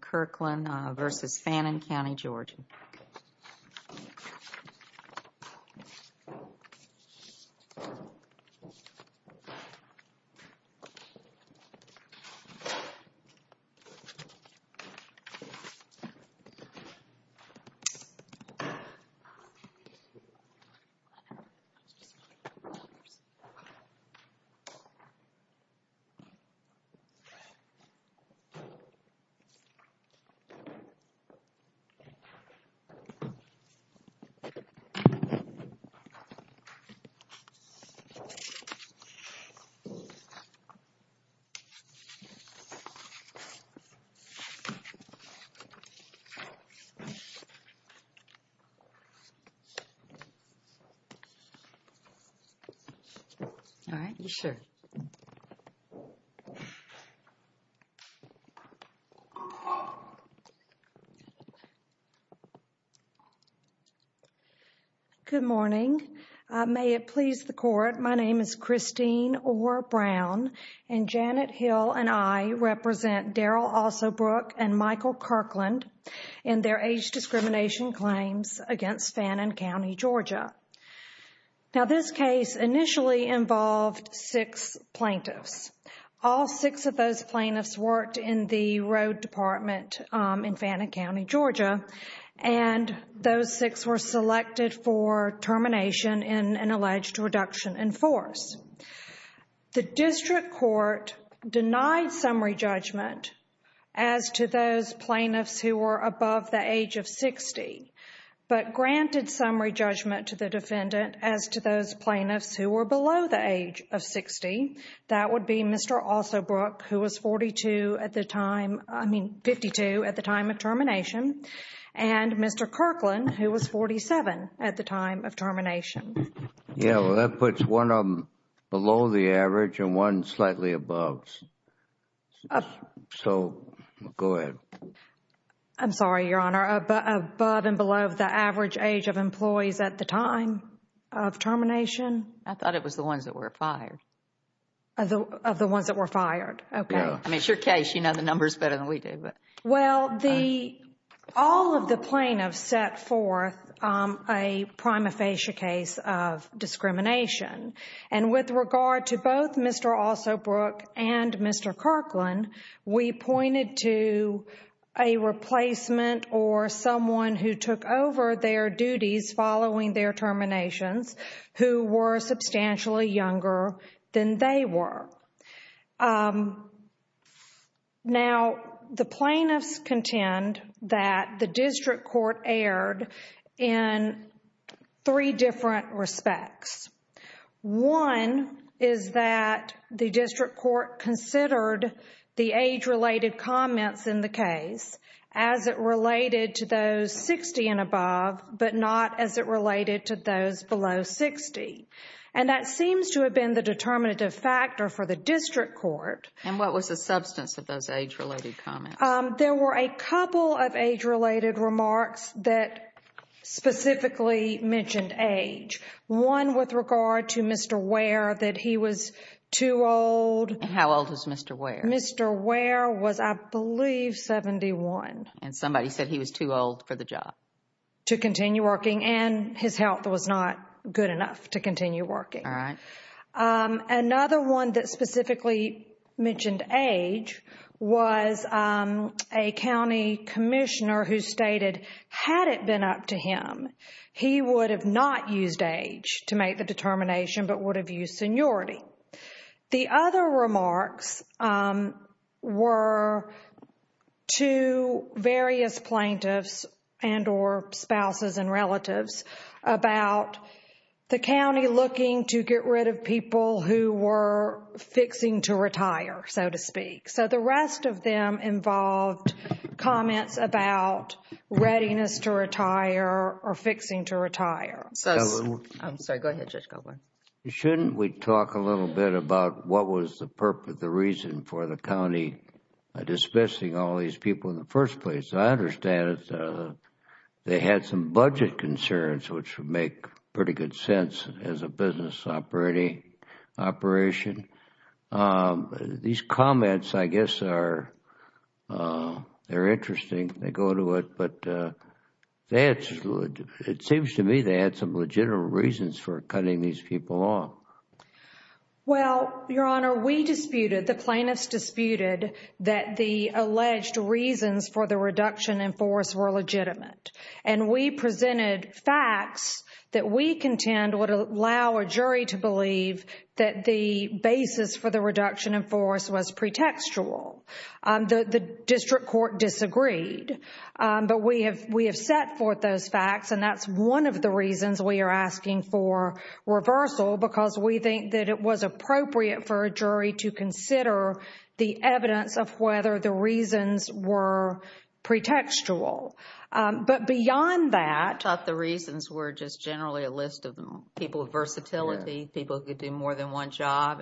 Kirkland v. Fannin County, Georgia Kirkland v. Fannin County, Georgia Good morning. May it please the court, my name is Christine Orr Brown and Janet Hill and I represent Darrell Alsobrook and Michael Kirkland in their age discrimination claims against Fannin County, Georgia. Now, this case initially involved six plaintiffs. All six of those plaintiffs worked in the road department in Fannin County, Georgia, and those six were selected for termination in an alleged reduction in force. The district court denied summary judgment as to those plaintiffs who were above the age of 60, but granted summary judgment to the defendant as to those plaintiffs who were below the age of 60. That would be Mr. Alsobrook, who was 42 at the time, I mean 52 at the time of termination, and Mr. Kirkland, who was 47 at the time of termination. Yeah, well, that puts one of them below the average and one slightly above. So, go ahead. I'm sorry, Your Honor, above and below the average age of employees at the time of termination? I thought it was the ones that were fired. Of the ones that were fired, okay. I mean, it's your case, you know the numbers better than we do. Well, all of the plaintiffs set forth a prima facie case of discrimination. And with regard to both Mr. Alsobrook and Mr. Kirkland, we pointed to a replacement or someone who took over their duties following their terminations who were substantially younger than they were. Now, the plaintiffs contend that the district court erred in three different respects. One is that the district court considered the age-related comments in the case as it related to those 60 and above, but not as it related to those below 60. And that seems to have been the determinative factor for the district court. And what was the substance of those age-related comments? There were a couple of age-related remarks that specifically mentioned age. One with regard to Mr. Ware, that he was too old. How old was Mr. Ware? Mr. Ware was, I believe, 71. And somebody said he was too old for the job? To continue working, and his health was not good enough to continue working. All right. Another one that specifically mentioned age was a county commissioner who stated, had it been up to him, he would have not used age to make the determination, but would have used seniority. The other remarks were to various plaintiffs and or spouses and relatives about the county looking to get rid of people who were fixing to retire, so to speak. So the rest of them involved comments about readiness to retire or fixing to retire. I'm sorry. Go ahead, Judge Goldberg. Shouldn't we talk a little bit about what was the purpose, the reason for the county dismissing all these people in the first place? I understand they had some budget concerns, which would make pretty good sense as a business operation. These comments, I guess, are interesting. They go to it. It seems to me they had some legitimate reasons for cutting these people off. Well, Your Honor, we disputed, the plaintiffs disputed, that the alleged reasons for the reduction in force were legitimate. And we presented facts that we contend would allow a jury to believe that the basis for the reduction in force was pretextual. The district court disagreed, but we have set forth those facts, and that's one of the reasons we are asking for reversal, because we think that it was appropriate for a jury to consider the evidence of whether the reasons were pretextual. But beyond that... I thought the reasons were just generally a list of people with versatility, people who could do more than one job,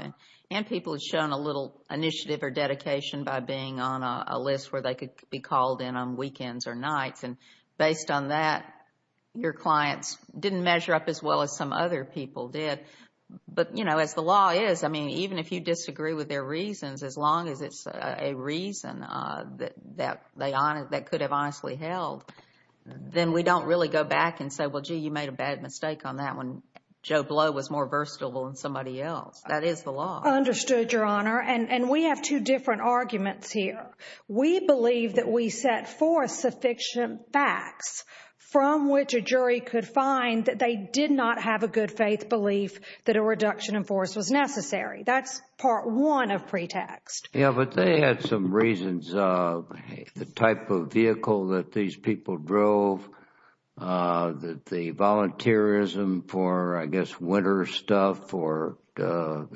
and people who had shown a little initiative or dedication by being on a list where they could be called in on weekends or nights. And based on that, your clients didn't measure up as well as some other people did. But, you know, as the law is, I mean, even if you disagree with their reasons, as long as it's a reason that they could have honestly held, then we don't really go back and say, well, gee, you made a bad mistake on that one. And Joe Blow was more versatile than somebody else. That is the law. Understood, Your Honor. And we have two different arguments here. We believe that we set forth sufficient facts from which a jury could find that they did not have a good faith belief that a reduction in force was necessary. That's part one of pretext. Yeah, but they had some reasons. The type of vehicle that these people drove, the volunteerism for, I guess, winter stuff or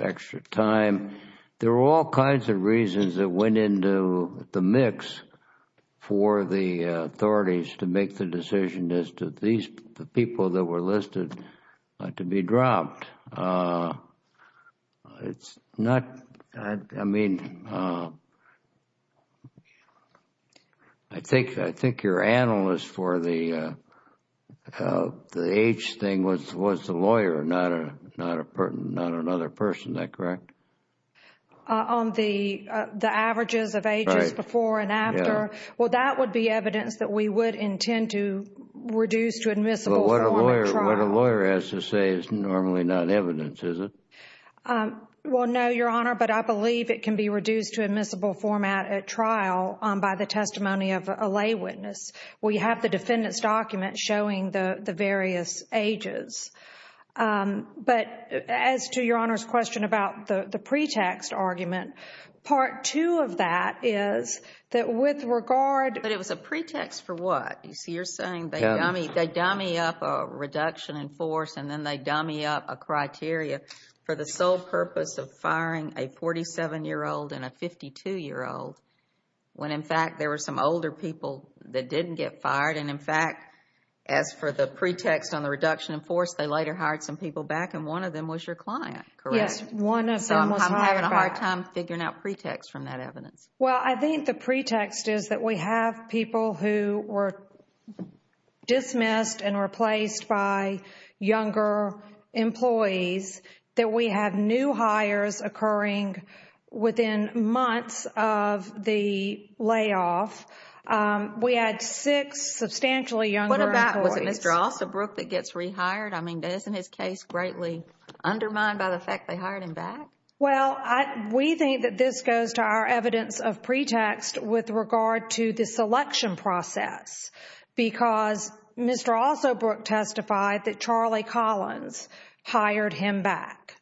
extra time. There were all kinds of reasons that went into the mix for the authorities to make the decision as to these people that were listed to be dropped. It's not, I mean, I think your analyst for the age thing was the lawyer, not another person. Is that correct? On the averages of ages before and after. Well, that would be evidence that we would intend to reduce to admissible. What a lawyer has to say is normally not evidence, is it? Well, no, Your Honor, but I believe it can be reduced to admissible format at trial by the testimony of a lay witness. We have the defendant's document showing the various ages. But as to Your Honor's question about the pretext argument, part two of that is that with regard. But it was a pretext for what? You see, you're saying they dummy up a reduction in force and then they dummy up a criteria for the sole purpose of firing a 47-year-old and a 52-year-old when, in fact, there were some older people that didn't get fired. And, in fact, as for the pretext on the reduction in force, they later hired some people back and one of them was your client, correct? Yes, one of them was hired back. So I'm having a hard time figuring out pretext from that evidence. Well, I think the pretext is that we have people who were dismissed and replaced by younger employees, that we have new hires occurring within months of the layoff. We had six substantially younger employees. What about, was it Mr. Ossobrook that gets rehired? I mean, isn't his case greatly undermined by the fact they hired him back? Well, we think that this goes to our evidence of pretext with regard to the selection process because Mr. Ossobrook testified that Charlie Collins hired him back.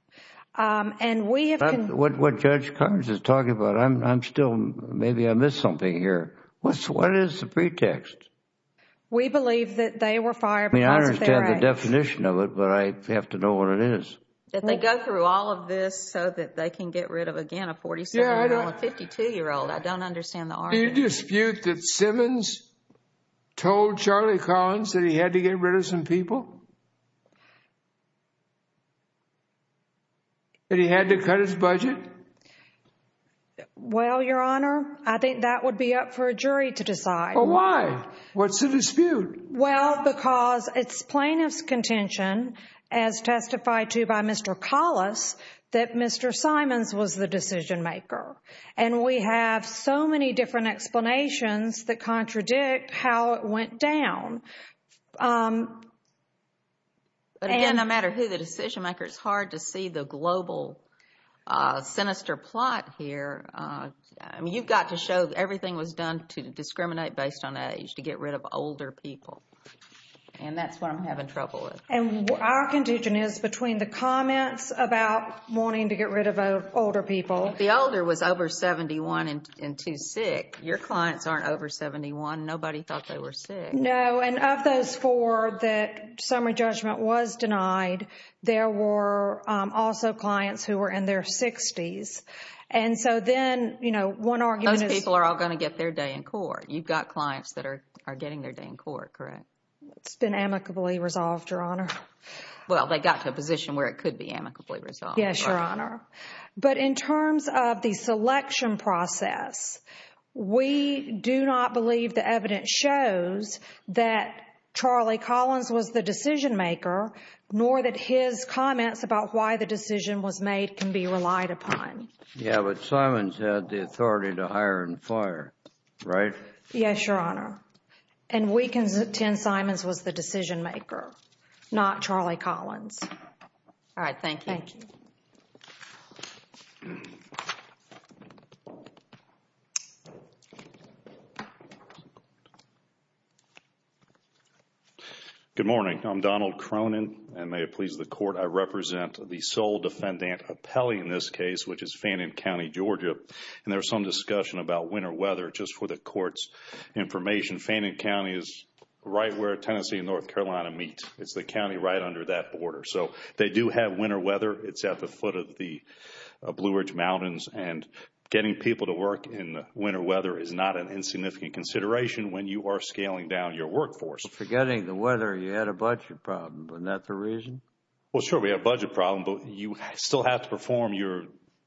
What Judge Carnes is talking about, I'm still, maybe I missed something here. What is the pretext? We believe that they were fired because of their age. I understand the definition of it, but I have to know what it is. That they go through all of this so that they can get rid of, again, a 47-year-old and a 52-year-old. I don't understand the argument. Do you dispute that Simmons told Charlie Collins that he had to get rid of some people? That he had to cut his budget? Well, Your Honor, I think that would be up for a jury to decide. Well, why? What's the dispute? Well, because it's plaintiff's contention, as testified to by Mr. Collins, that Mr. Simons was the decision-maker. And we have so many different explanations that contradict how it went down. But again, no matter who the decision-maker, it's hard to see the global sinister plot here. I mean, you've got to show everything was done to discriminate based on age, to get rid of older people. And that's what I'm having trouble with. And our contention is between the comments about wanting to get rid of older people. The older was over 71 and too sick. Your clients aren't over 71. Nobody thought they were sick. No, and of those four that summary judgment was denied, there were also clients who were in their 60s. And so then, you know, one argument is— Those people are all going to get their day in court. You've got clients that are getting their day in court, correct? It's been amicably resolved, Your Honor. Well, they got to a position where it could be amicably resolved. Yes, Your Honor. But in terms of the selection process, we do not believe the evidence shows that Charlie Collins was the decision-maker, nor that his comments about why the decision was made can be relied upon. Yeah, but Simons had the authority to hire and fire, right? Yes, Your Honor. And we can—Tim Simons was the decision-maker, not Charlie Collins. All right, thank you. Thank you. Thank you. Good morning. I'm Donald Cronin, and may it please the Court, I represent the sole defendant appellee in this case, which is Fannin County, Georgia. And there was some discussion about winter weather. Just for the Court's information, Fannin County is right where Tennessee and North Carolina meet. It's the county right under that border. So they do have winter weather. It's at the foot of the Blue Ridge Mountains. And getting people to work in winter weather is not an insignificant consideration when you are scaling down your workforce. Forgetting the weather, you had a budget problem. Isn't that the reason? Well, sure, we had a budget problem, but you still have to perform your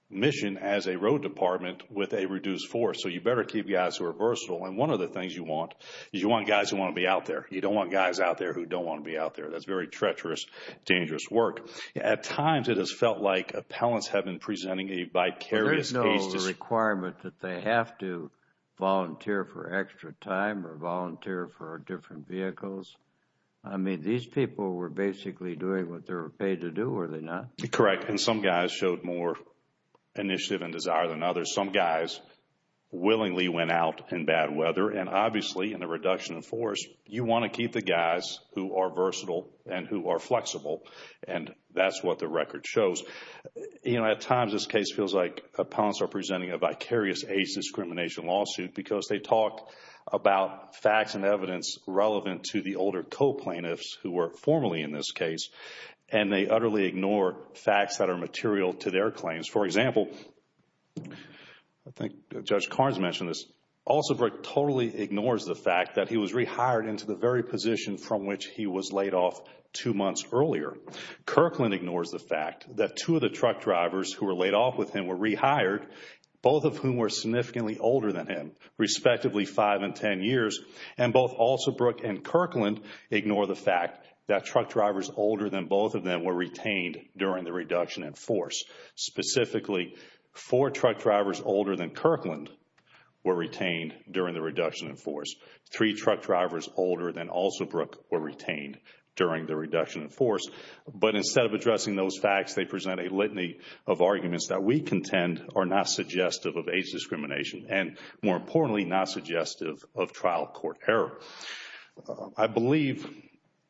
mission as a road department with a reduced force. So you better keep guys who are versatile. And one of the things you want is you want guys who want to be out there. You don't want guys out there who don't want to be out there. That's very treacherous, dangerous work. At times, it has felt like appellants have been presenting a vicarious case. There is no requirement that they have to volunteer for extra time or volunteer for different vehicles. I mean, these people were basically doing what they were paid to do, were they not? Correct. And some guys showed more initiative and desire than others. Some guys willingly went out in bad weather. And obviously, in the reduction of force, you want to keep the guys who are versatile and who are flexible. And that's what the record shows. You know, at times, this case feels like appellants are presenting a vicarious age discrimination lawsuit because they talk about facts and evidence relevant to the older co-plaintiffs who were formerly in this case. And they utterly ignore facts that are material to their claims. For example, I think Judge Carnes mentioned this, Alsobrook totally ignores the fact that he was rehired into the very position from which he was laid off two months earlier. Kirkland ignores the fact that two of the truck drivers who were laid off with him were rehired, both of whom were significantly older than him, respectively, five and ten years. And both Alsobrook and Kirkland ignore the fact that truck drivers older than both of them were retained during the reduction in force. Specifically, four truck drivers older than Kirkland were retained during the reduction in force. Three truck drivers older than Alsobrook were retained during the reduction in force. But instead of addressing those facts, they present a litany of arguments that we contend are not suggestive of age discrimination and, more importantly, not suggestive of trial court error. I believe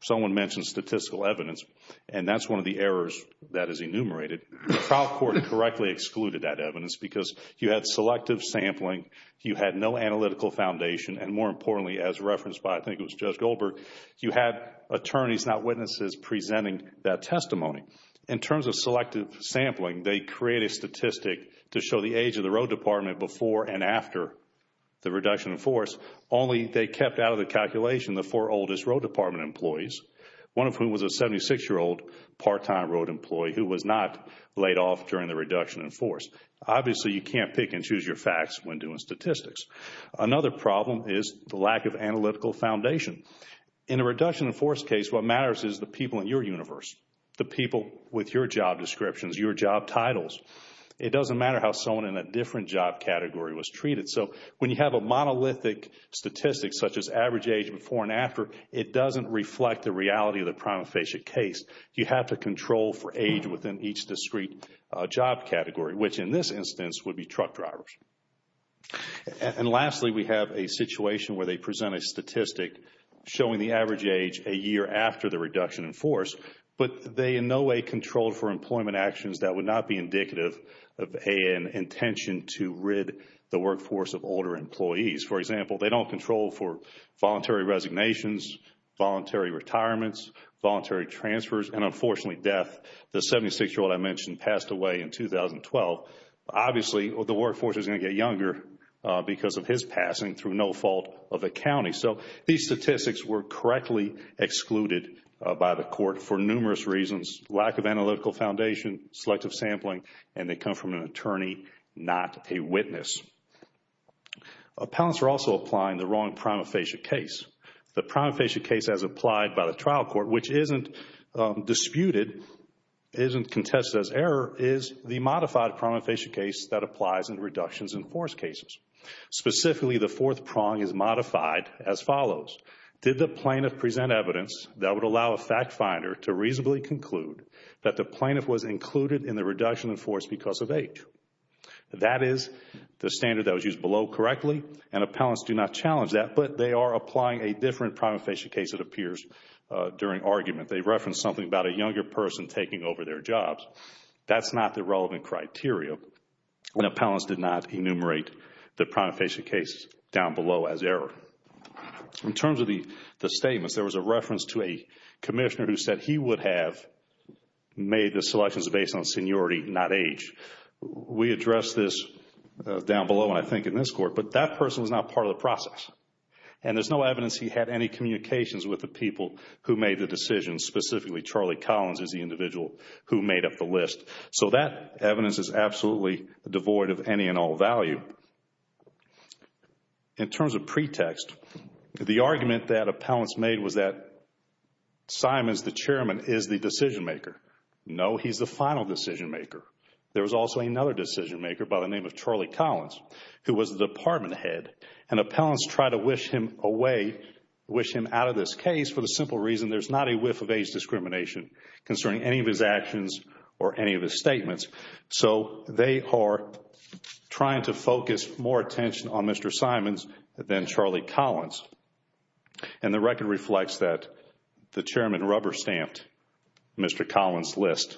someone mentioned statistical evidence, and that's one of the errors that is enumerated. Trial court correctly excluded that evidence because you had selective sampling, you had no analytical foundation, and, more importantly, as referenced by, I think it was Judge Goldberg, you had attorneys, not witnesses, presenting that testimony. In terms of selective sampling, they create a statistic to show the age of the road department before and after the reduction in force. Only they kept out of the calculation the four oldest road department employees, one of whom was a 76-year-old part-time road employee who was not laid off during the reduction in force. Obviously, you can't pick and choose your facts when doing statistics. Another problem is the lack of analytical foundation. In a reduction in force case, what matters is the people in your universe, the people with your job descriptions, your job titles. It doesn't matter how someone in a different job category was treated. So when you have a monolithic statistic such as average age before and after, it doesn't reflect the reality of the prima facie case. You have to control for age within each discrete job category, which in this instance would be truck drivers. And lastly, we have a situation where they present a statistic showing the average age a year after the reduction in force, but they in no way control for employment actions that would not be indicative of an intention to rid the workforce of older employees. For example, they don't control for voluntary resignations, voluntary retirements, voluntary transfers, and unfortunately death. The 76-year-old I mentioned passed away in 2012. Obviously, the workforce is going to get younger because of his passing through no fault of the county. So these statistics were correctly excluded by the court for numerous reasons, lack of analytical foundation, selective sampling, and they come from an attorney, not a witness. Appellants are also applying the wrong prima facie case. The prima facie case as applied by the trial court, which isn't disputed, isn't contested as error, is the modified prima facie case that applies in reductions in force cases. Specifically, the fourth prong is modified as follows. Did the plaintiff present evidence that would allow a fact finder to reasonably conclude that the plaintiff was included in the reduction in force because of age? That is the standard that was used below correctly, and appellants do not challenge that, but they are applying a different prima facie case that appears during argument. They reference something about a younger person taking over their jobs. That's not the relevant criteria, and appellants did not enumerate the prima facie case down below as error. In terms of the statements, there was a reference to a commissioner who said he would have made the selections based on seniority, not age. We addressed this down below, and I think in this court, but that person was not part of the process, and there's no evidence he had any communications with the people who made the decision, specifically Charlie Collins is the individual who made up the list. So that evidence is absolutely devoid of any and all value. In terms of pretext, the argument that appellants made was that Simon is the chairman, is the decision maker. No, he's the final decision maker. There was also another decision maker by the name of Charlie Collins who was the department head, and appellants try to wish him away, wish him out of this case for the simple reason there's not a whiff of age discrimination concerning any of his actions or any of his statements. So they are trying to focus more attention on Mr. Simons than Charlie Collins, and the record reflects that the chairman rubber stamped Mr. Collins' list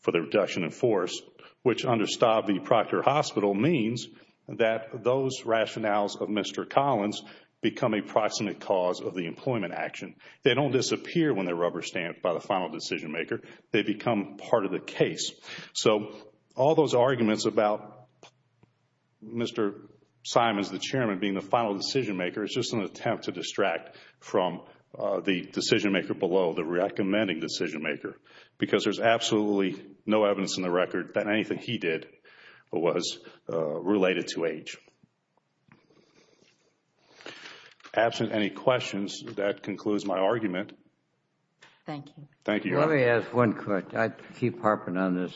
for the reduction in force, which understood the Proctor Hospital, means that those rationales of Mr. Collins become a proximate cause of the employment action. They don't disappear when they're rubber stamped by the final decision maker. They become part of the case. So all those arguments about Mr. Simons, the chairman, being the final decision maker, is just an attempt to distract from the decision maker below, the recommending decision maker, because there's absolutely no evidence in the record that anything he did was related to age. Absent any questions, that concludes my argument. Thank you. Thank you. Let me ask one quick. I keep harping on this.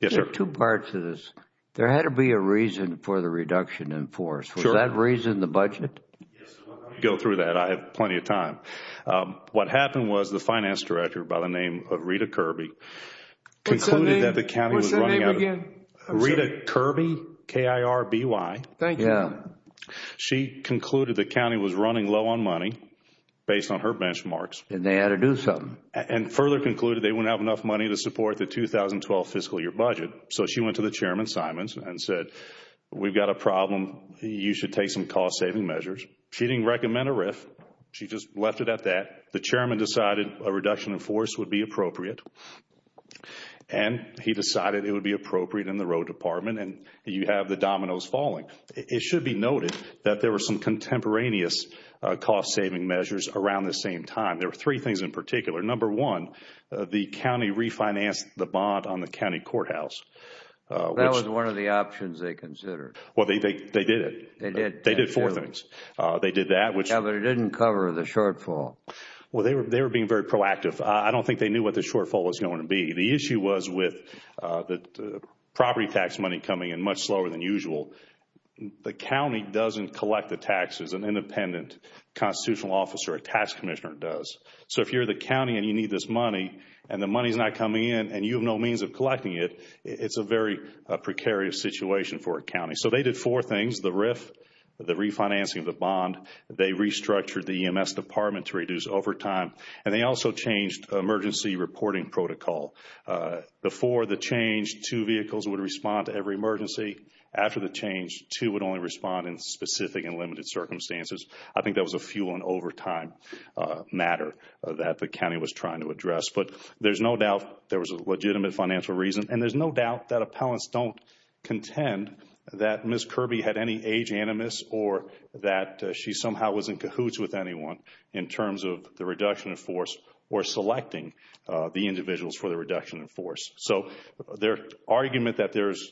Yes, sir. There are two parts to this. There had to be a reason for the reduction in force. Sure. Was that reason the budget? Yes. Let me go through that. I have plenty of time. What happened was the finance director by the name of Rita Kirby concluded that the county was running out of money. What's her name again? Rita Kirby, K-I-R-B-Y. Thank you. She concluded the county was running low on money based on her benchmarks. And they had to do something. And further concluded they wouldn't have enough money to support the 2012 fiscal year budget. So she went to the chairman, Simons, and said, we've got a problem. You should take some cost saving measures. She didn't recommend a RIF. She just left it at that. The chairman decided a reduction in force would be appropriate. And he decided it would be appropriate in the road department. And you have the dominoes falling. It should be noted that there were some contemporaneous cost saving measures around the same time. There were three things in particular. Number one, the county refinanced the bond on the county courthouse. That was one of the options they considered. Well, they did it. They did. They did four things. They did that, which Yeah, but it didn't cover the shortfall. Well, they were being very proactive. I don't think they knew what the shortfall was going to be. The issue was with the property tax money coming in much slower than usual. The county doesn't collect the taxes. An independent constitutional officer or tax commissioner does. So if you're the county and you need this money and the money is not coming in and you have no means of collecting it, it's a very precarious situation for a county. So they did four things. They changed the RIF, the refinancing of the bond. They restructured the EMS department to reduce overtime, and they also changed emergency reporting protocol. Before the change, two vehicles would respond to every emergency. After the change, two would only respond in specific and limited circumstances. I think that was a fuel and overtime matter that the county was trying to address. But there's no doubt there was a legitimate financial reason, and there's no doubt that appellants don't contend that Ms. Kirby had any age animus or that she somehow was in cahoots with anyone in terms of the reduction in force or selecting the individuals for the reduction in force. So their argument that there's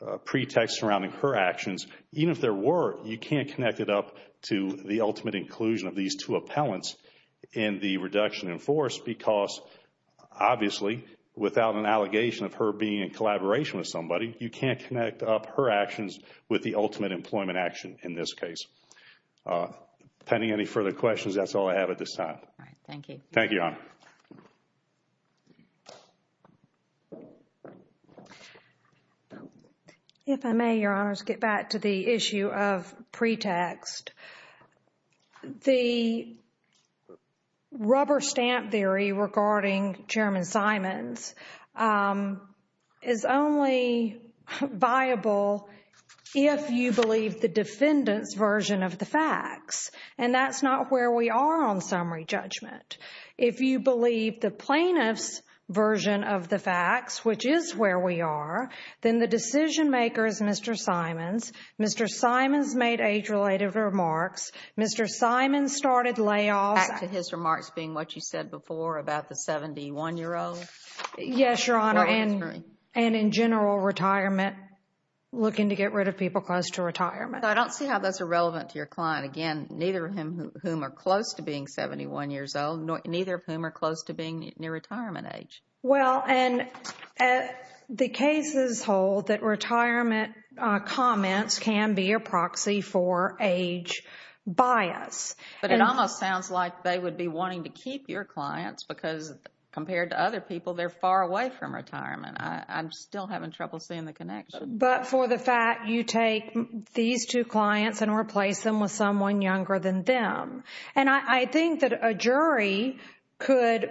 a pretext surrounding her actions, even if there were, you can't connect it up to the ultimate inclusion of these two appellants in the reduction in force because, obviously, without an allegation of her being in collaboration with somebody, you can't connect up her actions with the ultimate employment action in this case. Pending any further questions, that's all I have at this time. Thank you. Thank you, Your Honor. If I may, Your Honors, get back to the issue of pretext. The rubber stamp theory regarding Chairman Simons is only viable if you believe the defendant's version of the facts, and that's not where we are on summary judgment. If you believe the plaintiff's version of the facts, which is where we are, then the decision maker is Mr. Simons. Mr. Simons made age-related remarks. Mr. Simons started layoffs. Back to his remarks being what you said before about the 71-year-old. Yes, Your Honor, and in general, retirement, looking to get rid of people close to retirement. I don't see how that's irrelevant to your client. Again, neither of whom are close to being 71 years old, neither of whom are close to being near retirement age. Well, and the cases hold that retirement comments can be a proxy for age bias. But it almost sounds like they would be wanting to keep your clients because compared to other people, they're far away from retirement. I'm still having trouble seeing the connection. But for the fact you take these two clients and replace them with someone younger than them. And I think that a jury could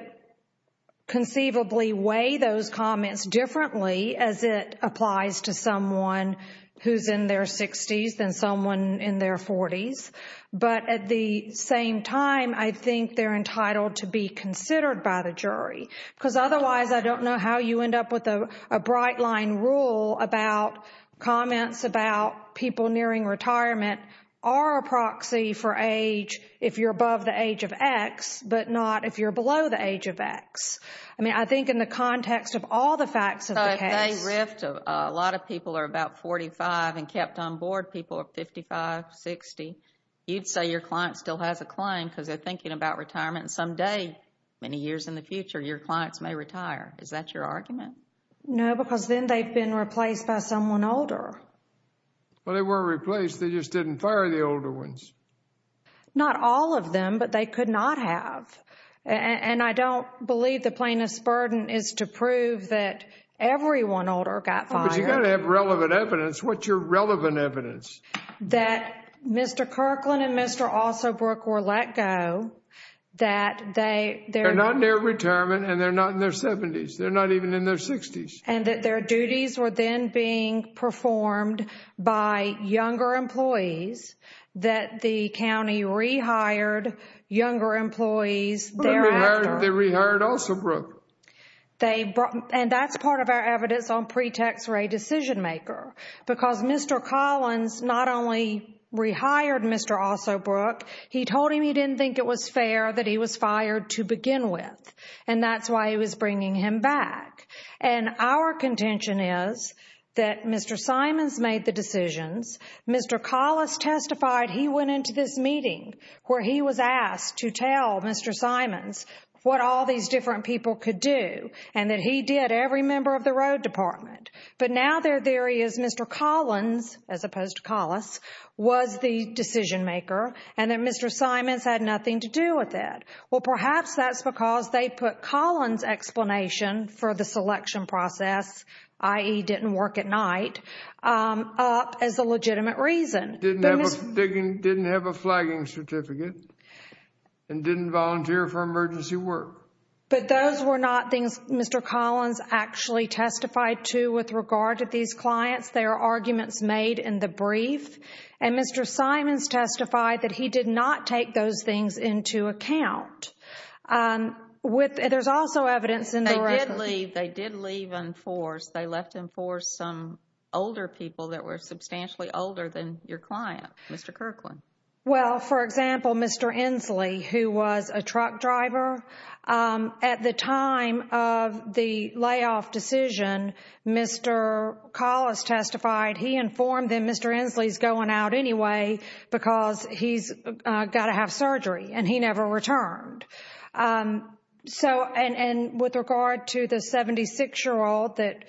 conceivably weigh those comments differently as it applies to someone who's in their 60s than someone in their 40s. But at the same time, I think they're entitled to be considered by the jury because otherwise I don't know how you end up with a bright-line rule about comments about people nearing retirement are a proxy for age if you're above the age of X, but not if you're below the age of X. I mean, I think in the context of all the facts of the case. So if they rift, a lot of people are about 45 and kept on board, people are 55, 60. You'd say your client still has a claim because they're thinking about retirement and someday, many years in the future, your clients may retire. Is that your argument? No, because then they've been replaced by someone older. Well, they weren't replaced. They just didn't fire the older ones. Not all of them, but they could not have. And I don't believe the plaintiff's burden is to prove that every one older got fired. But you've got to have relevant evidence. What's your relevant evidence? That Mr. Kirkland and Mr. Alsobrook were let go. They're not near retirement and they're not in their 70s. They're not even in their 60s. And that their duties were then being performed by younger employees, that the county rehired younger employees thereafter. They rehired Alsobrook. And that's part of our evidence on pretext for a decision maker because Mr. Collins not only rehired Mr. Alsobrook, he told him he didn't think it was fair that he was fired to begin with. And that's why he was bringing him back. And our contention is that Mr. Simons made the decisions. Mr. Collis testified he went into this meeting where he was asked to tell Mr. Simons what all these different people could do and that he did every member of the road department. But now their theory is Mr. Collins, as opposed to Collis, was the decision maker and that Mr. Simons had nothing to do with it. Well, perhaps that's because they put Collins' explanation for the selection process, i.e. didn't work at night, up as a legitimate reason. Didn't have a flagging certificate and didn't volunteer for emergency work. But those were not things Mr. Collins actually testified to with regard to these clients. They are arguments made in the brief. And Mr. Simons testified that he did not take those things into account. There's also evidence in the record. They did leave. They did leave on force. They left him for some older people that were substantially older than your client, Mr. Kirkland. Well, for example, Mr. Inslee, who was a truck driver. At the time of the layoff decision, Mr. Collis testified he informed them that Mr. Inslee is going out anyway because he's got to have surgery and he never returned. And with regard to the 76-year-old that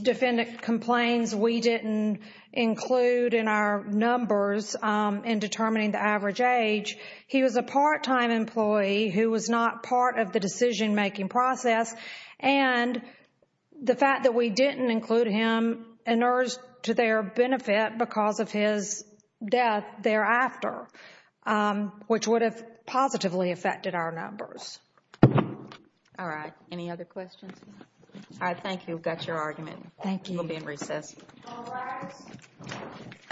defendant complains we didn't include in our numbers in determining the average age, he was a part-time employee who was not part of the decision-making process. And the fact that we didn't include him inerts to their benefit because of his death thereafter, which would have positively affected our numbers. All right. Any other questions? All right. Thank you. That's your argument. We'll be in recess. All rise.